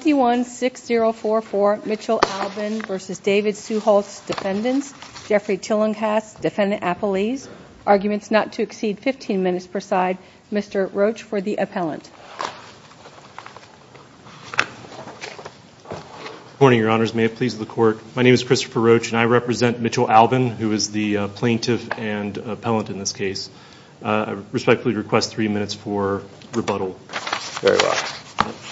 216044 Mitchell Albin v. David Suetholz Defendants Jeffrey Tillinghast Defendant Appellees Arguments not to exceed 15 minutes per side Mr Roach for the appellant Good morning your honors may it please the court my name is Christopher Roach and I represent Mitchell Albin who is the plaintiff and appellant in this case I respectfully request three minutes for rebuttal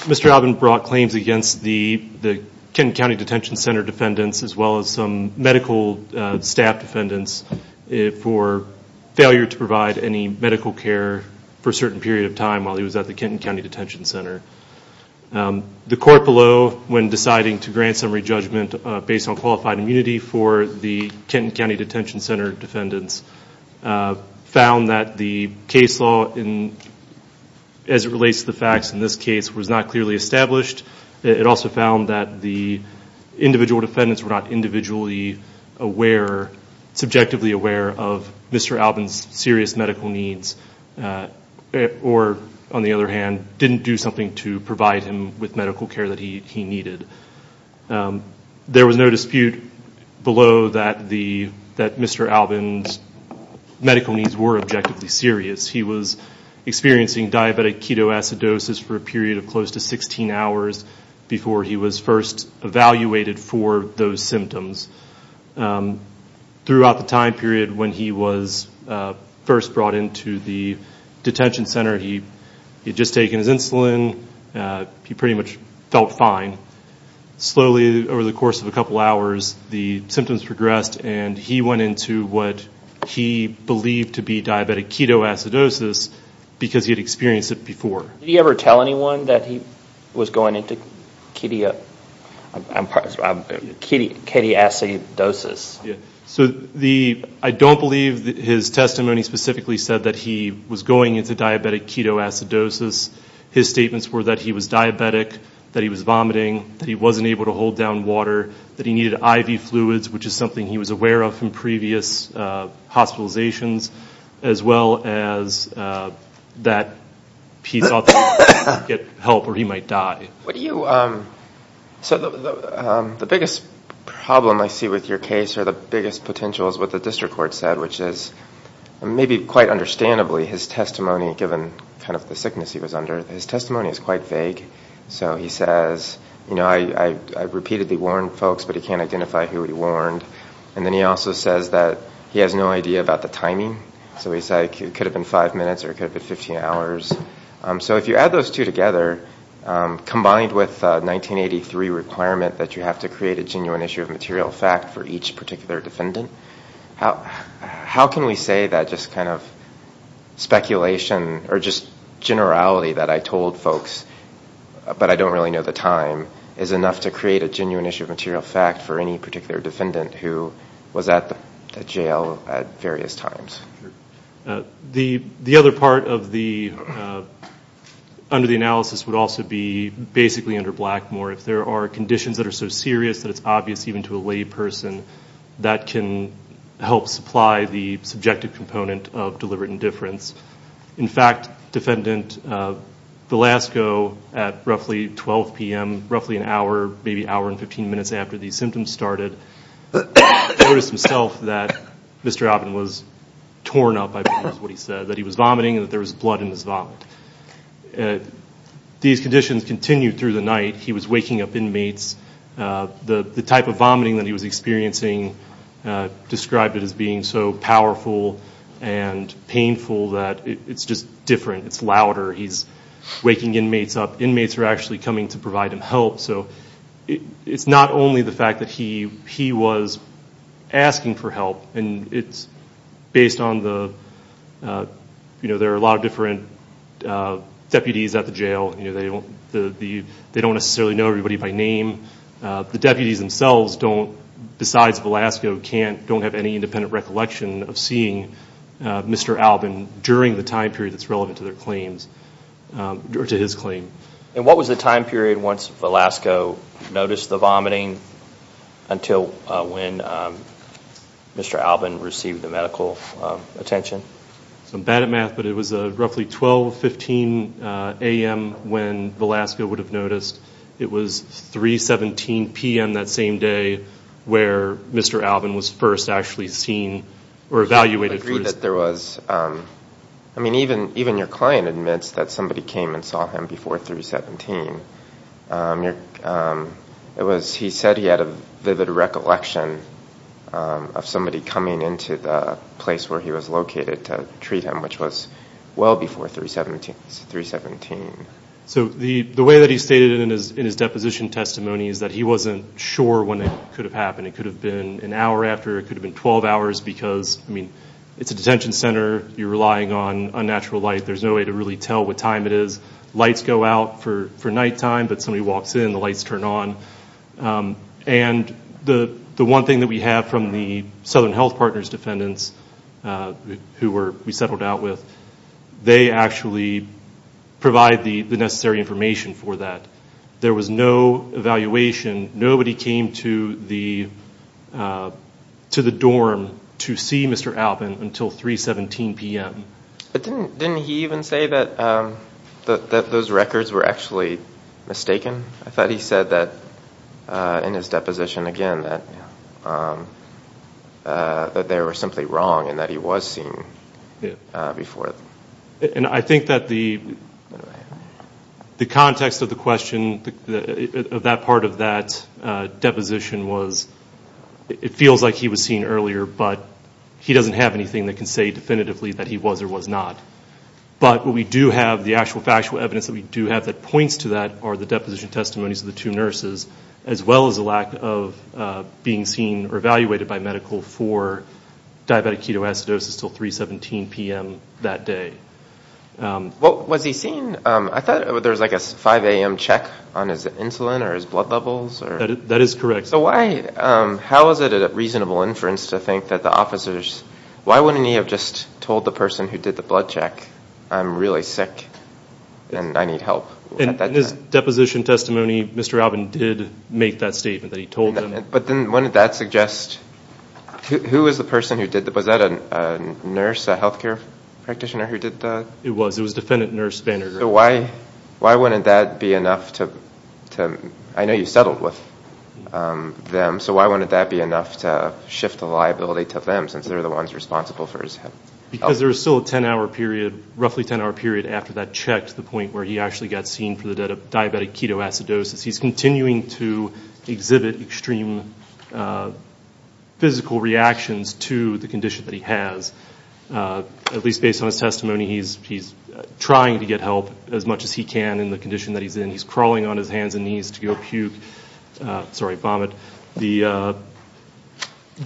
Mr Albin brought claims against the the Kenton County Detention Center defendants as well as some medical staff defendants for failure to provide any medical care for a certain period of time while he was at the Kenton County Detention Center the court below when deciding to grant summary judgment based on qualified immunity for the Kenton County Detention Center defendants found that the case law in as it relates to the facts in this case was not clearly established it also found that the individual defendants were not individually aware subjectively aware of Mr Albin's serious medical needs or on the other hand didn't do something to provide him with medical care that he he needed there was no dispute below that the that Mr Albin's medical needs were objectively serious he was experiencing diabetic ketoacidosis for a period of close to 16 hours before he was first evaluated for those symptoms throughout the time period when he was first brought into the detention center he had just taken his insulin he pretty much felt fine slowly over the course of a couple hours the symptoms progressed and he went into what he believed to be diabetic ketoacidosis because he had experienced it before did he ever tell anyone that he was going into kidia i'm sorry i'm kitty katie acidosis yeah so the i don't believe that his testimony specifically said that he was going into diabetic ketoacidosis his statements were that he was diabetic that he was vomiting that wasn't able to hold down water that he needed iv fluids which is something he was aware of from previous hospitalizations as well as that piece off get help or he might die what do you um so the biggest problem i see with your case or the biggest potential is what the district court said which is maybe quite understandably his testimony given kind of the sickness he was under his i've repeatedly warned folks but he can't identify who he warned and then he also says that he has no idea about the timing so he's like it could have been five minutes or it could have been 15 hours so if you add those two together combined with 1983 requirement that you have to create a genuine issue of material fact for each particular defendant how how can we say that just kind of to create a genuine issue of material fact for any particular defendant who was at the jail at various times the the other part of the under the analysis would also be basically under blackmore if there are conditions that are so serious that it's obvious even to a lay person that can help supply the subjective component of deliberate indifference in fact defendant the last go at 12 p.m roughly an hour maybe hour and 15 minutes after these symptoms started noticed himself that mr alvin was torn up i believe is what he said that he was vomiting and there was blood in his vomit these conditions continued through the night he was waking up inmates the the type of vomiting that he was experiencing described it as being so powerful and painful that it's just different it's louder he's waking inmates up inmates are actually coming to provide him help so it's not only the fact that he he was asking for help and it's based on the you know there are a lot of different deputies at the jail you know they don't the they don't necessarily know everybody by name the deputies themselves don't besides velasco can't don't have any independent recollection of seeing mr alvin during the time period that's relevant to their claims or to his claim and what was the time period once velasco noticed the vomiting until when mr alvin received the medical attention so i'm bad at math but it was a roughly 12 15 a.m when velasco would have noticed it was 3 17 p.m that same day where mr alvin was first actually seen or evaluated that there was um i mean even even your client admits that somebody came and saw him before 3 17 um it was he said he had a vivid recollection um of somebody coming into the place where he was located to treat him which was well before 3 17 3 17 so the the way that he stated in his in his deposition testimony is that he wasn't sure when it could have happened it could have been an hour after it could have been 12 hours because i mean it's a detention center you're relying on unnatural light there's no way to really tell what time it is lights go out for for night time but somebody walks in the lights turn on um and the the one thing that we have from the southern health partners defendants uh who were we settled out with they actually provide the the necessary information for that there was no evaluation nobody came to the to the dorm to see mr alvin until 3 17 p.m but didn't didn't he even say that um that those records were actually mistaken i thought he said that uh in his deposition again that um uh that they were simply wrong and that he was seen before and i think that the the context of the question of that part of that uh deposition was it feels like he was seen earlier but he doesn't have anything that can say definitively that he was or was not but what we do have the actual factual evidence that we do have that points to that are the deposition by medical for diabetic ketoacidosis till 3 17 p.m that day um well was he seen um i thought there was like a 5 a.m check on his insulin or his blood levels or that is correct so why um how is it a reasonable inference to think that the officers why wouldn't he have just told the person who did the blood check i'm really sick and i need help and his deposition testimony mr alvin did make that statement that he told them but then when did that suggest who was the person who did that was that a nurse a health care practitioner who did that it was it was defendant nurse banner so why why wouldn't that be enough to to i know you settled with them so why wouldn't that be enough to shift the liability to them since they're the ones responsible for his health because there was still a 10 hour period roughly 10 hour period after that checked the point where he actually got seen for the dead of diabetic ketoacidosis he's continuing to exhibit extreme physical reactions to the condition that he has at least based on his testimony he's he's trying to get help as much as he can in the condition that he's in he's crawling on his hands and knees to go puke sorry vomit the uh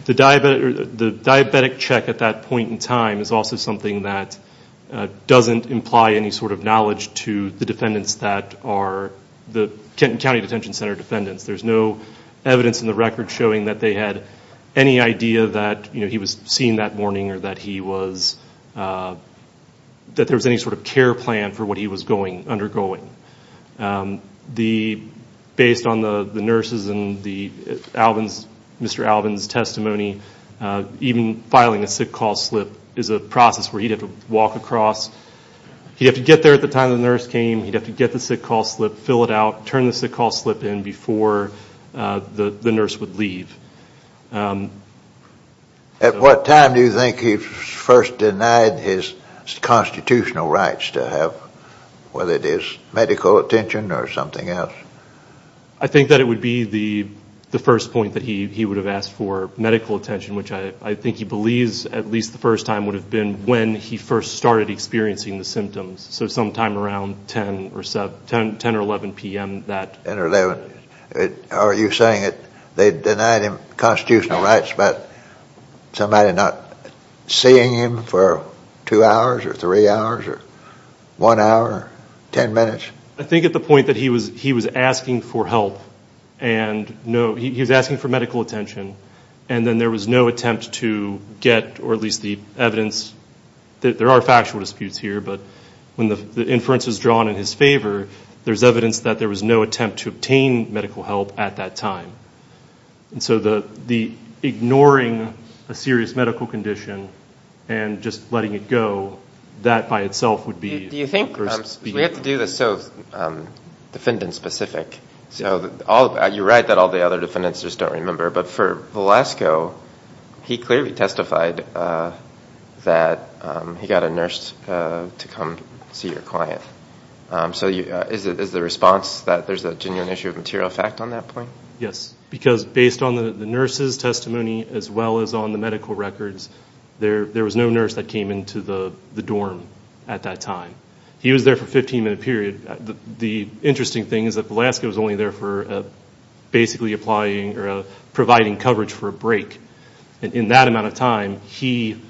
the diabetic the to the defendants that are the kenton county detention center defendants there's no evidence in the record showing that they had any idea that you know he was seen that morning or that he was uh that there was any sort of care plan for what he was going undergoing the based on the the nurses and the alvin's mr alvin's testimony uh even filing a sick call is a process where he'd have to walk across he'd have to get there at the time the nurse came he'd have to get the sick call slip fill it out turn the sick call slip in before uh the the nurse would leave um at what time do you think he first denied his constitutional rights to have whether it is medical attention or something else i think that it would be the the first point that he would have asked for medical attention which i i think he believes at least the first time would have been when he first started experiencing the symptoms so sometime around 10 or 7 10 or 11 p.m that are you saying that they denied him constitutional rights but somebody not seeing him for two hours or three hours or one hour 10 minutes i think at the point that he was he was for medical attention and then there was no attempt to get or at least the evidence that there are factual disputes here but when the inference was drawn in his favor there's evidence that there was no attempt to obtain medical help at that time and so the the ignoring a serious medical condition and just letting it go that by itself would be do you think we have to do this so defendant specific so all you're right that all the other defendants just don't remember but for velasco he clearly testified uh that um he got a nurse uh to come see your client um so you is it is the response that there's a genuine issue of material effect on that point yes because based on the the nurse's testimony as well as on the medical records there there was no nurse that the interesting thing is that velasco was only there for basically applying or providing coverage for a break and in that amount of time he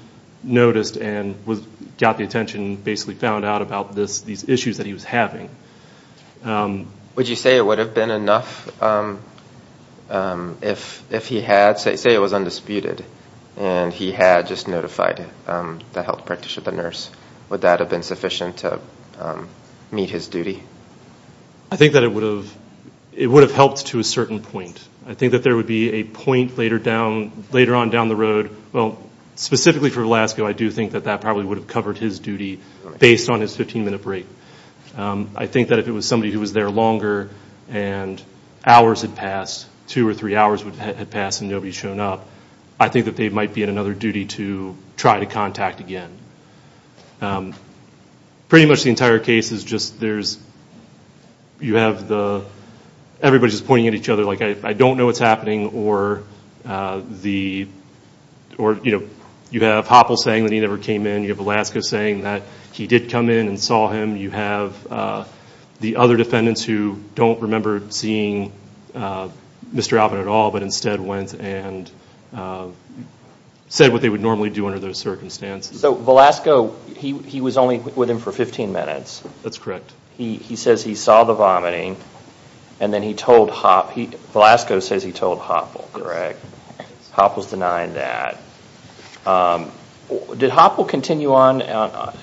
noticed and was got the attention basically found out about this these issues that he was having um would you say it would have been enough um if if he had say say it was undisputed and he had just notified um the health i think that it would have it would have helped to a certain point i think that there would be a point later down later on down the road well specifically for velasco i do think that that probably would have covered his duty based on his 15-minute break um i think that if it was somebody who was there longer and hours had passed two or three hours would have passed and nobody's shown up i think that they might be in another duty to try to contact again um pretty much the entire case is just there's you have the everybody's pointing at each other like i don't know what's happening or uh the or you know you have hoppel saying that he never came in you have alaska saying that he did come in and saw him you have uh the other defendants who don't remember seeing uh mr alvin at all but instead went and uh said what they would normally do under those that's correct he he says he saw the vomiting and then he told hop he velasco says he told hopper correct hop was denying that um did hop will continue on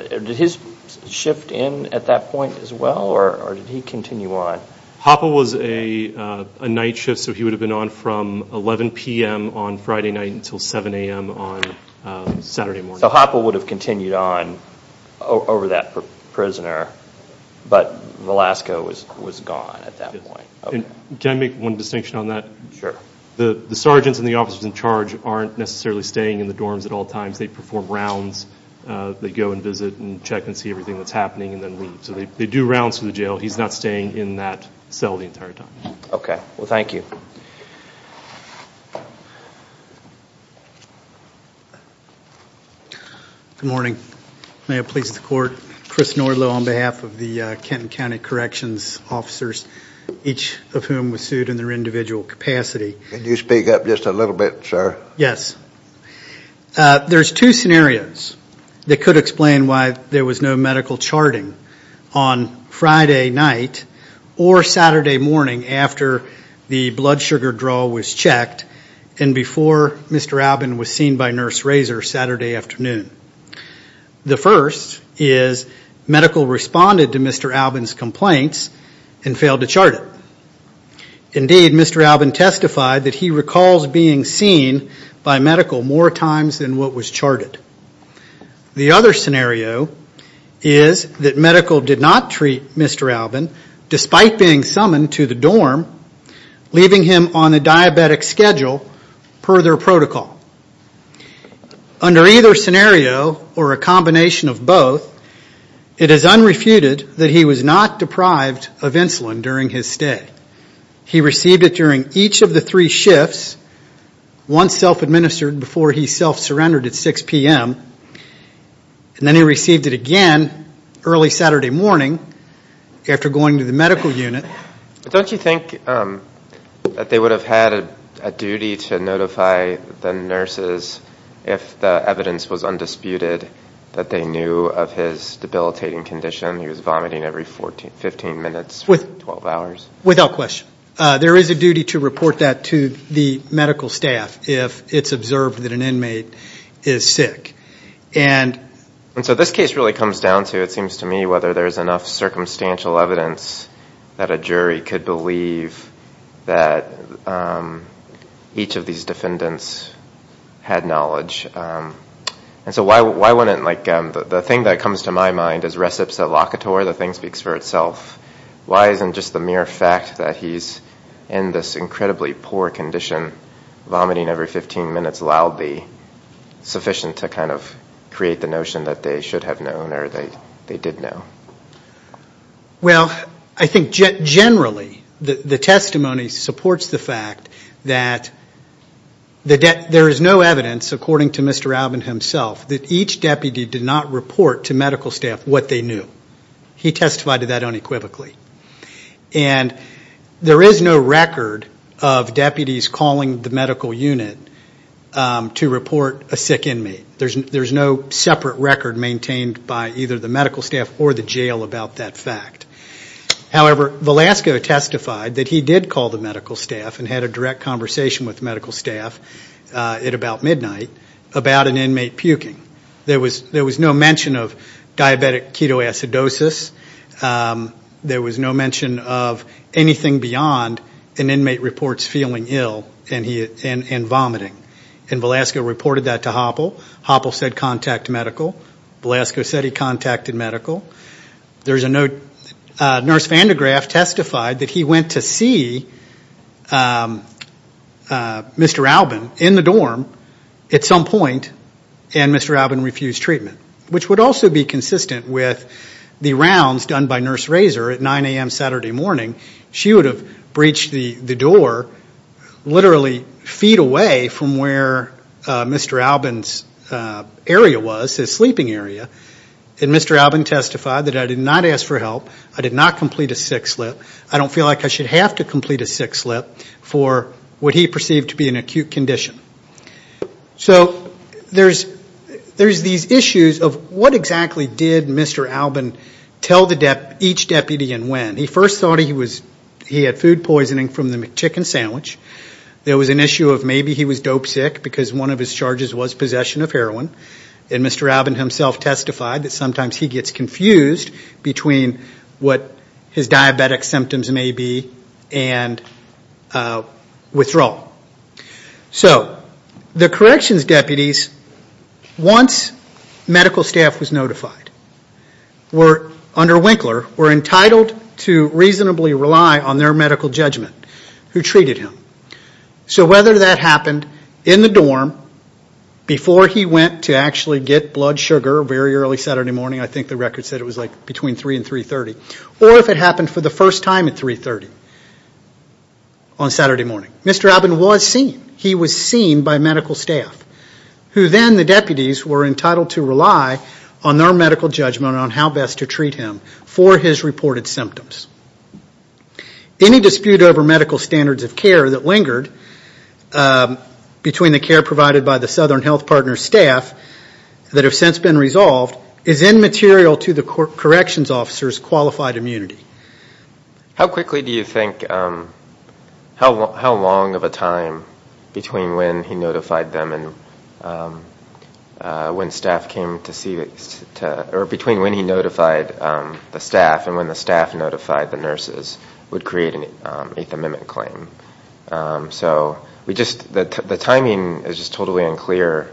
did his shift in at that point as well or did he continue on hopper was a uh a night shift so he would have been on from 11 p.m on friday night until 7 a.m on uh saturday morning so hopper would have continued on over that prisoner but velasco was was gone at that point can i make one distinction on that sure the the sergeants and the officers in charge aren't necessarily staying in the dorms at all times they perform rounds uh they go and visit and check and see everything that's happening and then leave so they do rounds to the jail he's not staying in that cell the entire time okay well you good morning may it please the court chris norlow on behalf of the kenton county corrections officers each of whom was sued in their individual capacity can you speak up just a little bit sir yes uh there's two scenarios that could explain why there was no medical charting on friday night or saturday morning after the blood sugar draw was checked and before mr albin was seen by nurse razor saturday afternoon the first is medical responded to mr albin's complaints and failed to chart it indeed mr albin testified that he recalls being seen by medical more times than was charted the other scenario is that medical did not treat mr albin despite being summoned to the dorm leaving him on a diabetic schedule per their protocol under either scenario or a combination of both it is unrefuted that he was not deprived of insulin during his stay he received it during each of the three shifts once self-administered before he self-surrendered at 6 p.m and then he received it again early saturday morning after going to the medical unit but don't you think um that they would have had a duty to notify the nurses if the evidence was undisputed that they knew of his debilitating condition he was vomiting every 14 15 minutes with 12 hours without question uh there is a duty to report that to the medical staff if it's observed that an inmate is sick and and so this case really comes down to it seems to me whether there's enough circumstantial evidence that a jury could believe that um each of these defendants had knowledge um and so why why wouldn't like um the thing that comes to my mind is recipes at the thing speaks for itself why isn't just the mere fact that he's in this incredibly poor condition vomiting every 15 minutes allowed the sufficient to kind of create the notion that they should have known or they they did know well i think generally the the testimony supports the fact that the debt there is no evidence according to mr alvin himself that each deputy did not report to medical staff what they knew he testified to that unequivocally and there is no record of deputies calling the medical unit um to report a sick inmate there's there's no separate record maintained by either the medical staff or the jail about that fact however velasco testified that he did call the medical staff and had a direct conversation with diabetic ketoacidosis um there was no mention of anything beyond an inmate reports feeling ill and he and vomiting and velasco reported that to hoppel hoppel said contact medical velasco said he contacted medical there's a note uh nurse vandegraaff testified that he went to see um uh mr albin in the dorm at some point and mr albin refused treatment which would also be consistent with the rounds done by nurse razor at 9 a.m saturday morning she would have breached the the door literally feet away from where uh mr albin's uh area was his sleeping area and mr albin testified that i did not ask for help i did not complete a sick slip i don't feel like i should have to complete a sick slip for what he perceived to be an acute condition so there's there's these issues of what exactly did mr albin tell the dep each deputy and when he first thought he was he had food poisoning from the chicken sandwich there was an issue of maybe he was dope sick because one of his charges was possession of heroin and mr albin himself testified that sometimes he gets confused between what his diabetic symptoms may be and uh withdrawal so the corrections deputies once medical staff was notified were under winkler were entitled to reasonably rely on their medical judgment who treated him so whether that happened in the dorm before he went to get blood sugar very early saturday morning i think the record said it was like between 3 and 330 or if it happened for the first time at 330 on saturday morning mr albin was seen he was seen by medical staff who then the deputies were entitled to rely on their medical judgment on how best to treat him for his reported symptoms any dispute over medical standards of care that that have since been resolved is immaterial to the corrections officers qualified immunity how quickly do you think um how long how long of a time between when he notified them and when staff came to see or between when he notified the staff and when the staff notified the nurses would create an eighth amendment claim so we just the timing is just totally unclear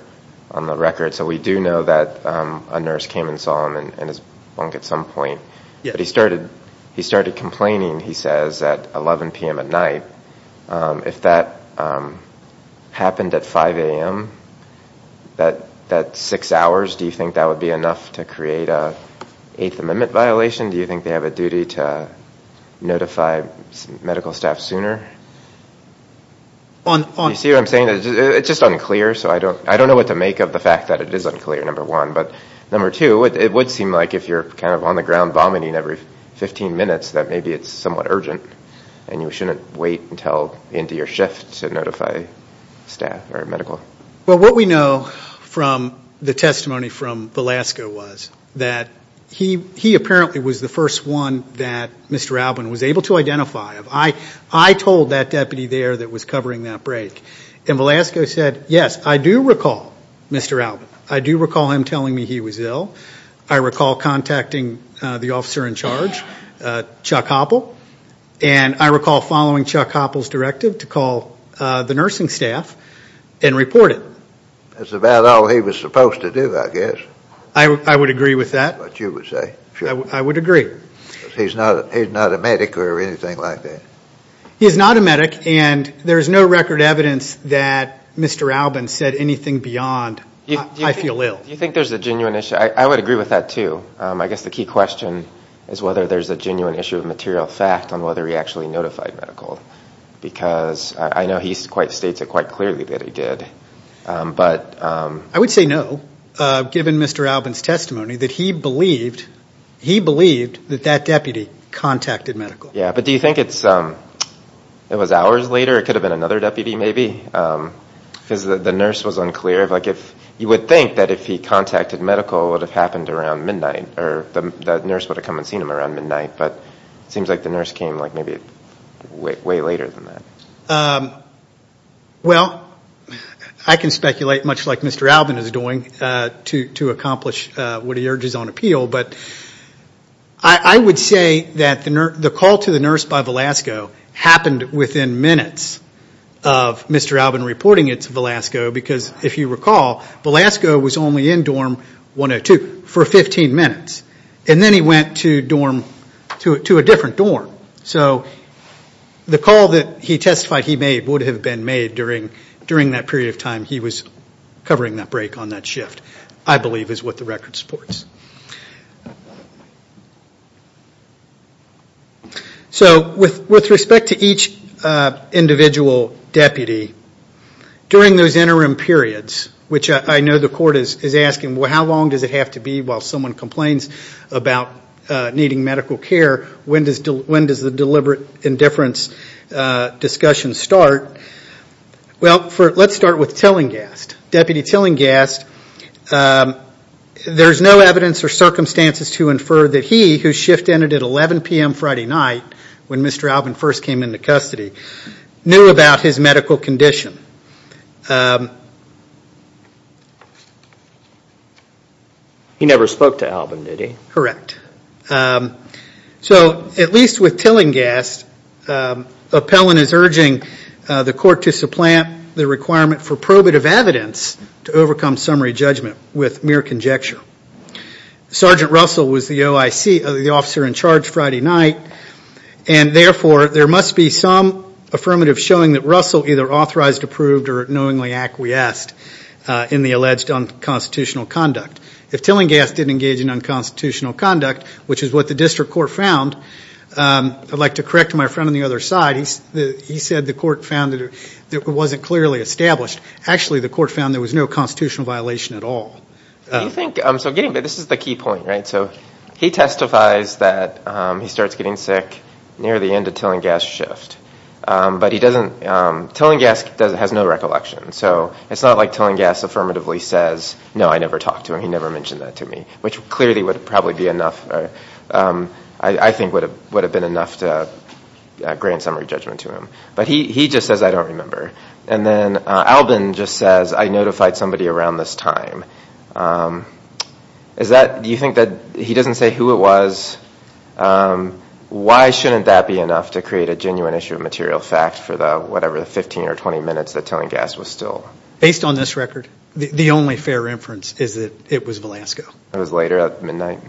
on the record so we do know that um a nurse came and saw him and his bunk at some point but he started he started complaining he says at 11 p.m at night um if that um happened at 5 a.m that that six hours do you think that would be enough to create a eighth amendment violation do you think they have a duty to notify medical staff sooner on you see what i'm saying it's just unclear so i don't i don't know what to make of the fact that it is unclear number one but number two it would seem like if you're kind of on the ground vomiting every 15 minutes that maybe it's somewhat urgent and you shouldn't wait until into your shift to notify staff or medical well what we know from the testimony from velasco was that he he apparently was the first one that mr albin was able to identify i i told that deputy there that was covering that break and velasco said yes i do recall mr albin i do recall him telling me he was ill i recall contacting the officer in charge uh chuck hopple and i recall following chuck hopple's directive to call the nursing staff and report it that's about all he was supposed to do i guess i i would agree with that but you would say sure i would agree he's not he's not a medic or anything like that he's not a mr albin said anything beyond i feel ill you think there's a genuine issue i would agree with that too um i guess the key question is whether there's a genuine issue of material fact on whether he actually notified medical because i know he's quite states it quite clearly that he did but um i would say no uh given mr albin's testimony that he believed he believed that that deputy contacted medical yeah but do you think it's um it was hours later it could have been another deputy maybe um because the nurse was unclear of like if you would think that if he contacted medical it would have happened around midnight or the nurse would have come and seen him around midnight but it seems like the nurse came like maybe way later than that um well i can speculate much like mr albin is doing uh to to accomplish uh what he urges on appeal but i i would say that the the call to the nurse by velasco happened within minutes of mr albin reporting it to velasco because if you recall velasco was only in dorm 102 for 15 minutes and then he went to dorm to to a different dorm so the call that he testified he made would have been made during during that period of time he was covering that break on that shift i believe is what the record supports so with with respect to each uh individual deputy during those interim periods which i know the court is is asking well how long does it have to be while someone complains about uh needing medical care when does when does the deliberate indifference uh discussion start well for let's start with tillinghast deputy tillinghast there's no evidence or circumstances to infer that he whose shift ended at 11 p.m friday night when mr albin first came into custody knew about his medical condition he never spoke to albin did he correct um so at least with tillinghast appellant is urging the court to supplant the requirement for probative evidence to overcome summary judgment with mere conjecture sergeant russell was the oic of the officer in charge friday night and therefore there must be some affirmative showing that russell either authorized approved or knowingly acquiesced in the alleged unconstitutional conduct if tillinghast didn't engage in unconstitutional conduct which is what the district court found i'd like to correct my friend on the other side he said the court found that it wasn't clearly established actually the court found there was no constitutional violation at all do you think um so getting but this is the key point right so he testifies that um he starts getting sick near the end of tillinghast shift um but he doesn't um tillinghast doesn't has no recollection so it's not like tillinghast affirmatively says no i never talked to him he never mentioned that to me which clearly would probably be enough um i i think would have would have been enough to grant summary judgment to him but he he just says i don't remember and then albin just says i notified somebody around this time um is that do you think that he doesn't say who it was um why shouldn't that be enough to create a genuine issue of material fact for the whatever the 15 or 20 minutes that tillinghast was based on this record the only fair inference is that it was velasco it was later at midnight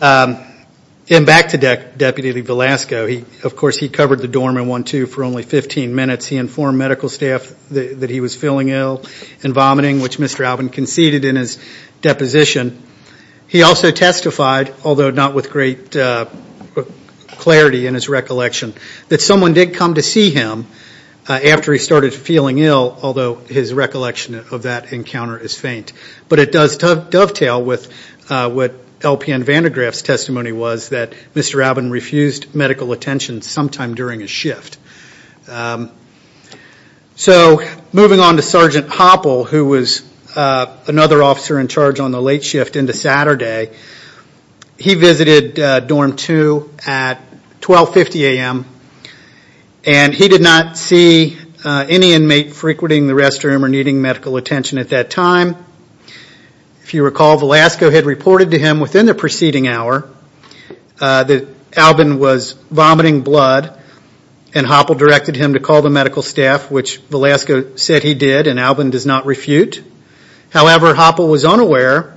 and back to deputy velasco he of course he covered the dorm in one two for only 15 minutes he informed medical staff that he was feeling ill and vomiting which mr alvin conceded in his deposition he also testified although not with great uh clarity in his recollection that someone did come to see him after he started feeling ill although his recollection of that encounter is faint but it does dovetail with uh what lpn van de graaff's testimony was that mr alvin refused medical attention sometime during a shift um so moving on to sergeant hoppel who was another officer in charge on the late shift into saturday he visited dorm 2 at 12 50 am and he did not see any inmate frequenting the restroom or needing medical attention at that time if you recall velasco had reported to him within the preceding hour that alvin was vomiting blood and hoppel directed him to call the medical staff which velasco said he did and alvin does not refute however hopper was unaware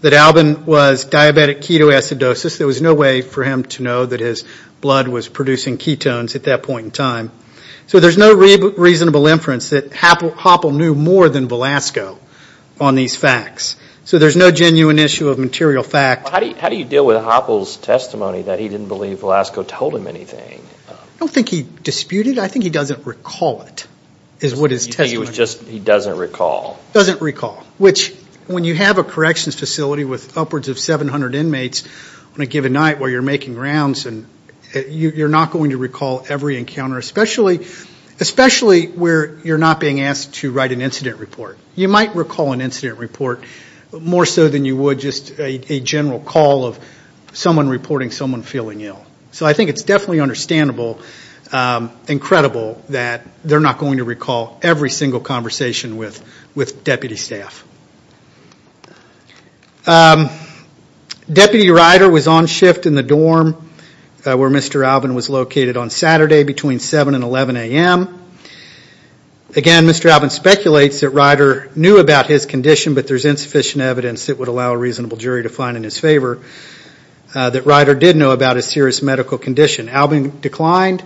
that alvin was diabetic ketoacidosis there was no way for him to that point in time so there's no reasonable inference that happened hopper knew more than velasco on these facts so there's no genuine issue of material fact how do you how do you deal with hoppels testimony that he didn't believe velasco told him anything i don't think he disputed i think he doesn't recall it is what his testimony was just he doesn't recall doesn't recall which when you have a corrections facility with upwards of 700 inmates on a given night where you're going to recall every encounter especially especially where you're not being asked to write an incident report you might recall an incident report more so than you would just a general call of someone reporting someone feeling ill so i think it's definitely understandable incredible that they're not going to recall every single conversation with with deputy staff um deputy rider was on shift in the dorm where mr alvin was located on saturday between 7 and 11 a.m again mr alvin speculates that rider knew about his condition but there's insufficient evidence that would allow a reasonable jury to find in his favor that rider did know about a serious medical condition alvin declined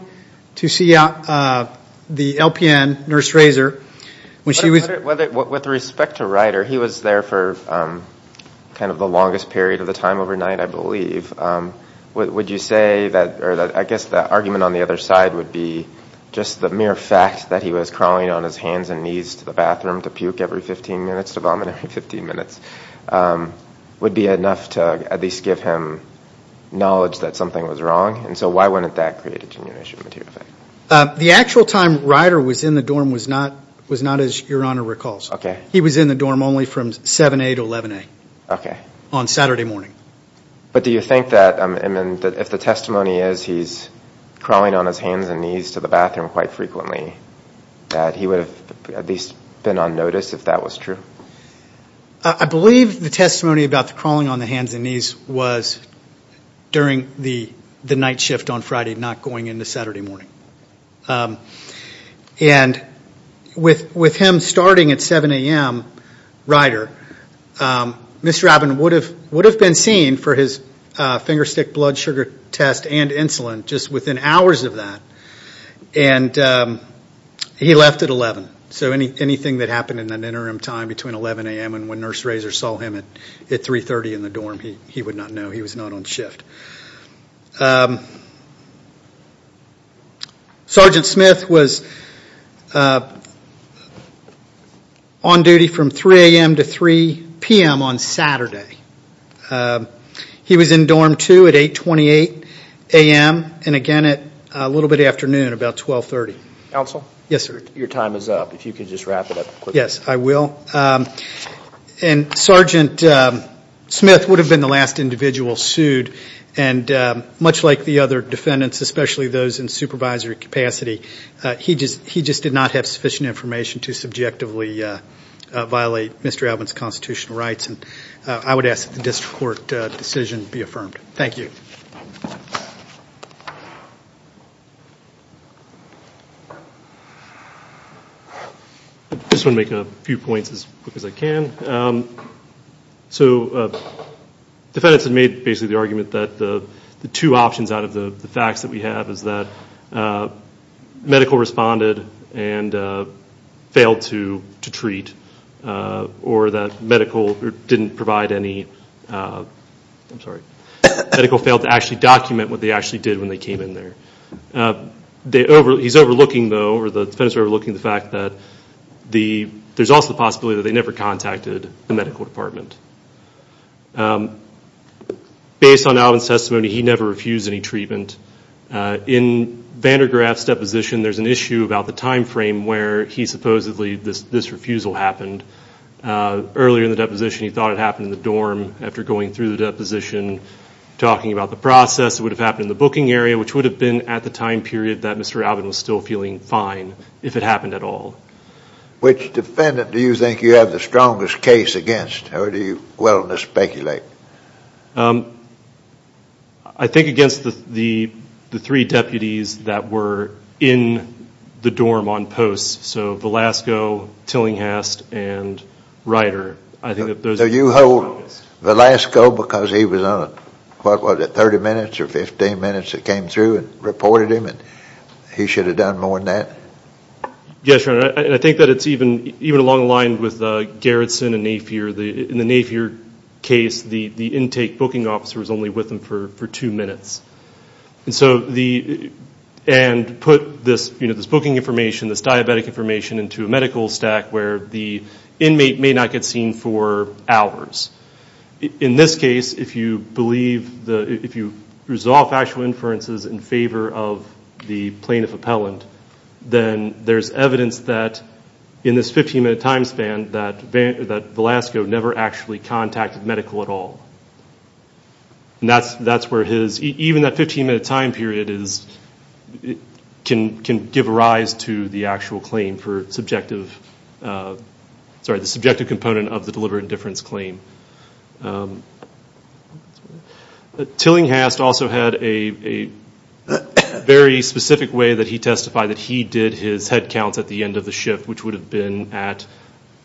to see uh the lpn nurse razor when she was whether with respect to rider he was there for um kind of the longest period of the time overnight i believe um what would you say that or that i guess the argument on the other side would be just the mere fact that he was crawling on his hands and knees to the bathroom to puke every 15 minutes to vomit every 15 minutes um would be enough to at least give him knowledge that something was wrong and so why wouldn't that create a genuine issue material effect uh the actual time rider was in the dorm was not was not as your honor recalls okay he was in the dorm only from 7a to 11a okay on saturday morning but do you think that um and then that if the testimony is he's crawling on his hands and knees to the bathroom quite frequently that he would have at least been on notice if that was true i believe the testimony about the crawling on the hands and knees was during the the night shift on friday not going into saturday morning um and with with him starting at 7 a.m rider um mr alvin would have would have been seen for his uh finger stick blood sugar test and insulin just within hours of that and um he left at 11 so any anything that happened in an interim time between 11 a.m and when nurse razor saw him at at 3 30 in the dorm he he would not know he was not on shift um sergeant smith was on duty from 3 a.m to 3 p.m on saturday he was in dorm 2 at 8 28 a.m and again at a little bit afternoon about 12 30 council yes sir your time is up if you could just wrap it up yes i will um and sergeant smith would have been the last individual sued and much like the other defendants especially those in supervisory capacity he just he just did not have sufficient information to subjectively uh violate mr alvin's constitutional rights and i would ask the district court decision thank you just want to make a few points as quick as i can um so uh defendants had made basically the argument that the the two options out of the the facts that we have is that uh medical responded and uh failed to to treat uh or that medical didn't provide any uh i'm sorry medical failed to actually document what they actually did when they came in there uh they over he's overlooking though or the defense overlooking the fact that the there's also the possibility that they never contacted the medical department um based on alvin's testimony he never refused any treatment in vandergraaf's deposition there's an issue about the time frame where he supposedly this this refusal happened uh earlier in the deposition he thought it happened in the dorm after going through the deposition talking about the process it would have happened in the booking area which would have been at the time period that mr alvin was still feeling fine if it happened at all which defendant do you think you have the strongest case against or do you well to speculate um i think against the the the three deputies that were in the dorm on post so velasco tillinghast and writer i think that those are you hold velasco because he was on what was it 30 minutes or 15 minutes that came through and reported him and he should have done more than that yes your honor i think that it's even even along the line with uh garrison and napier the in the your case the the intake booking officer was only with them for for two minutes and so the and put this you know this booking information this diabetic information into a medical stack where the inmate may not get seen for hours in this case if you believe the if you resolve actual inferences in favor of the plaintiff appellant then there's evidence that in this medical at all and that's that's where his even that 15 minute time period is can can give rise to the actual claim for subjective uh sorry the subjective component of the deliberate indifference claim tillinghast also had a a very specific way that he testified that he did his head counts at the end of the shift which would have been at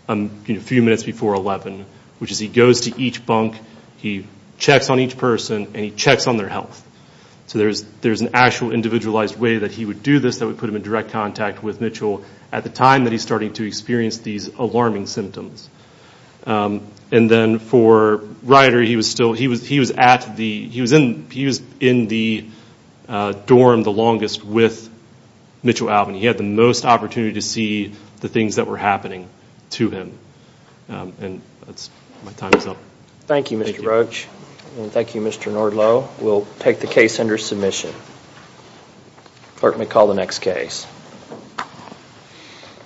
a few minutes before 11 which is he goes to each bunk he checks on each person and he checks on their health so there's there's an actual individualized way that he would do this that would put him in direct contact with mitchell at the time that he's starting to experience these alarming symptoms and then for writer he was still he was he was at the he was in he was in the dorm the longest with mitchell alvin he had the most opportunity to see the things that were happening to him and that's my time is up thank you mr rugge and thank you mr nordlo we'll take the case under submission clerk may call the next case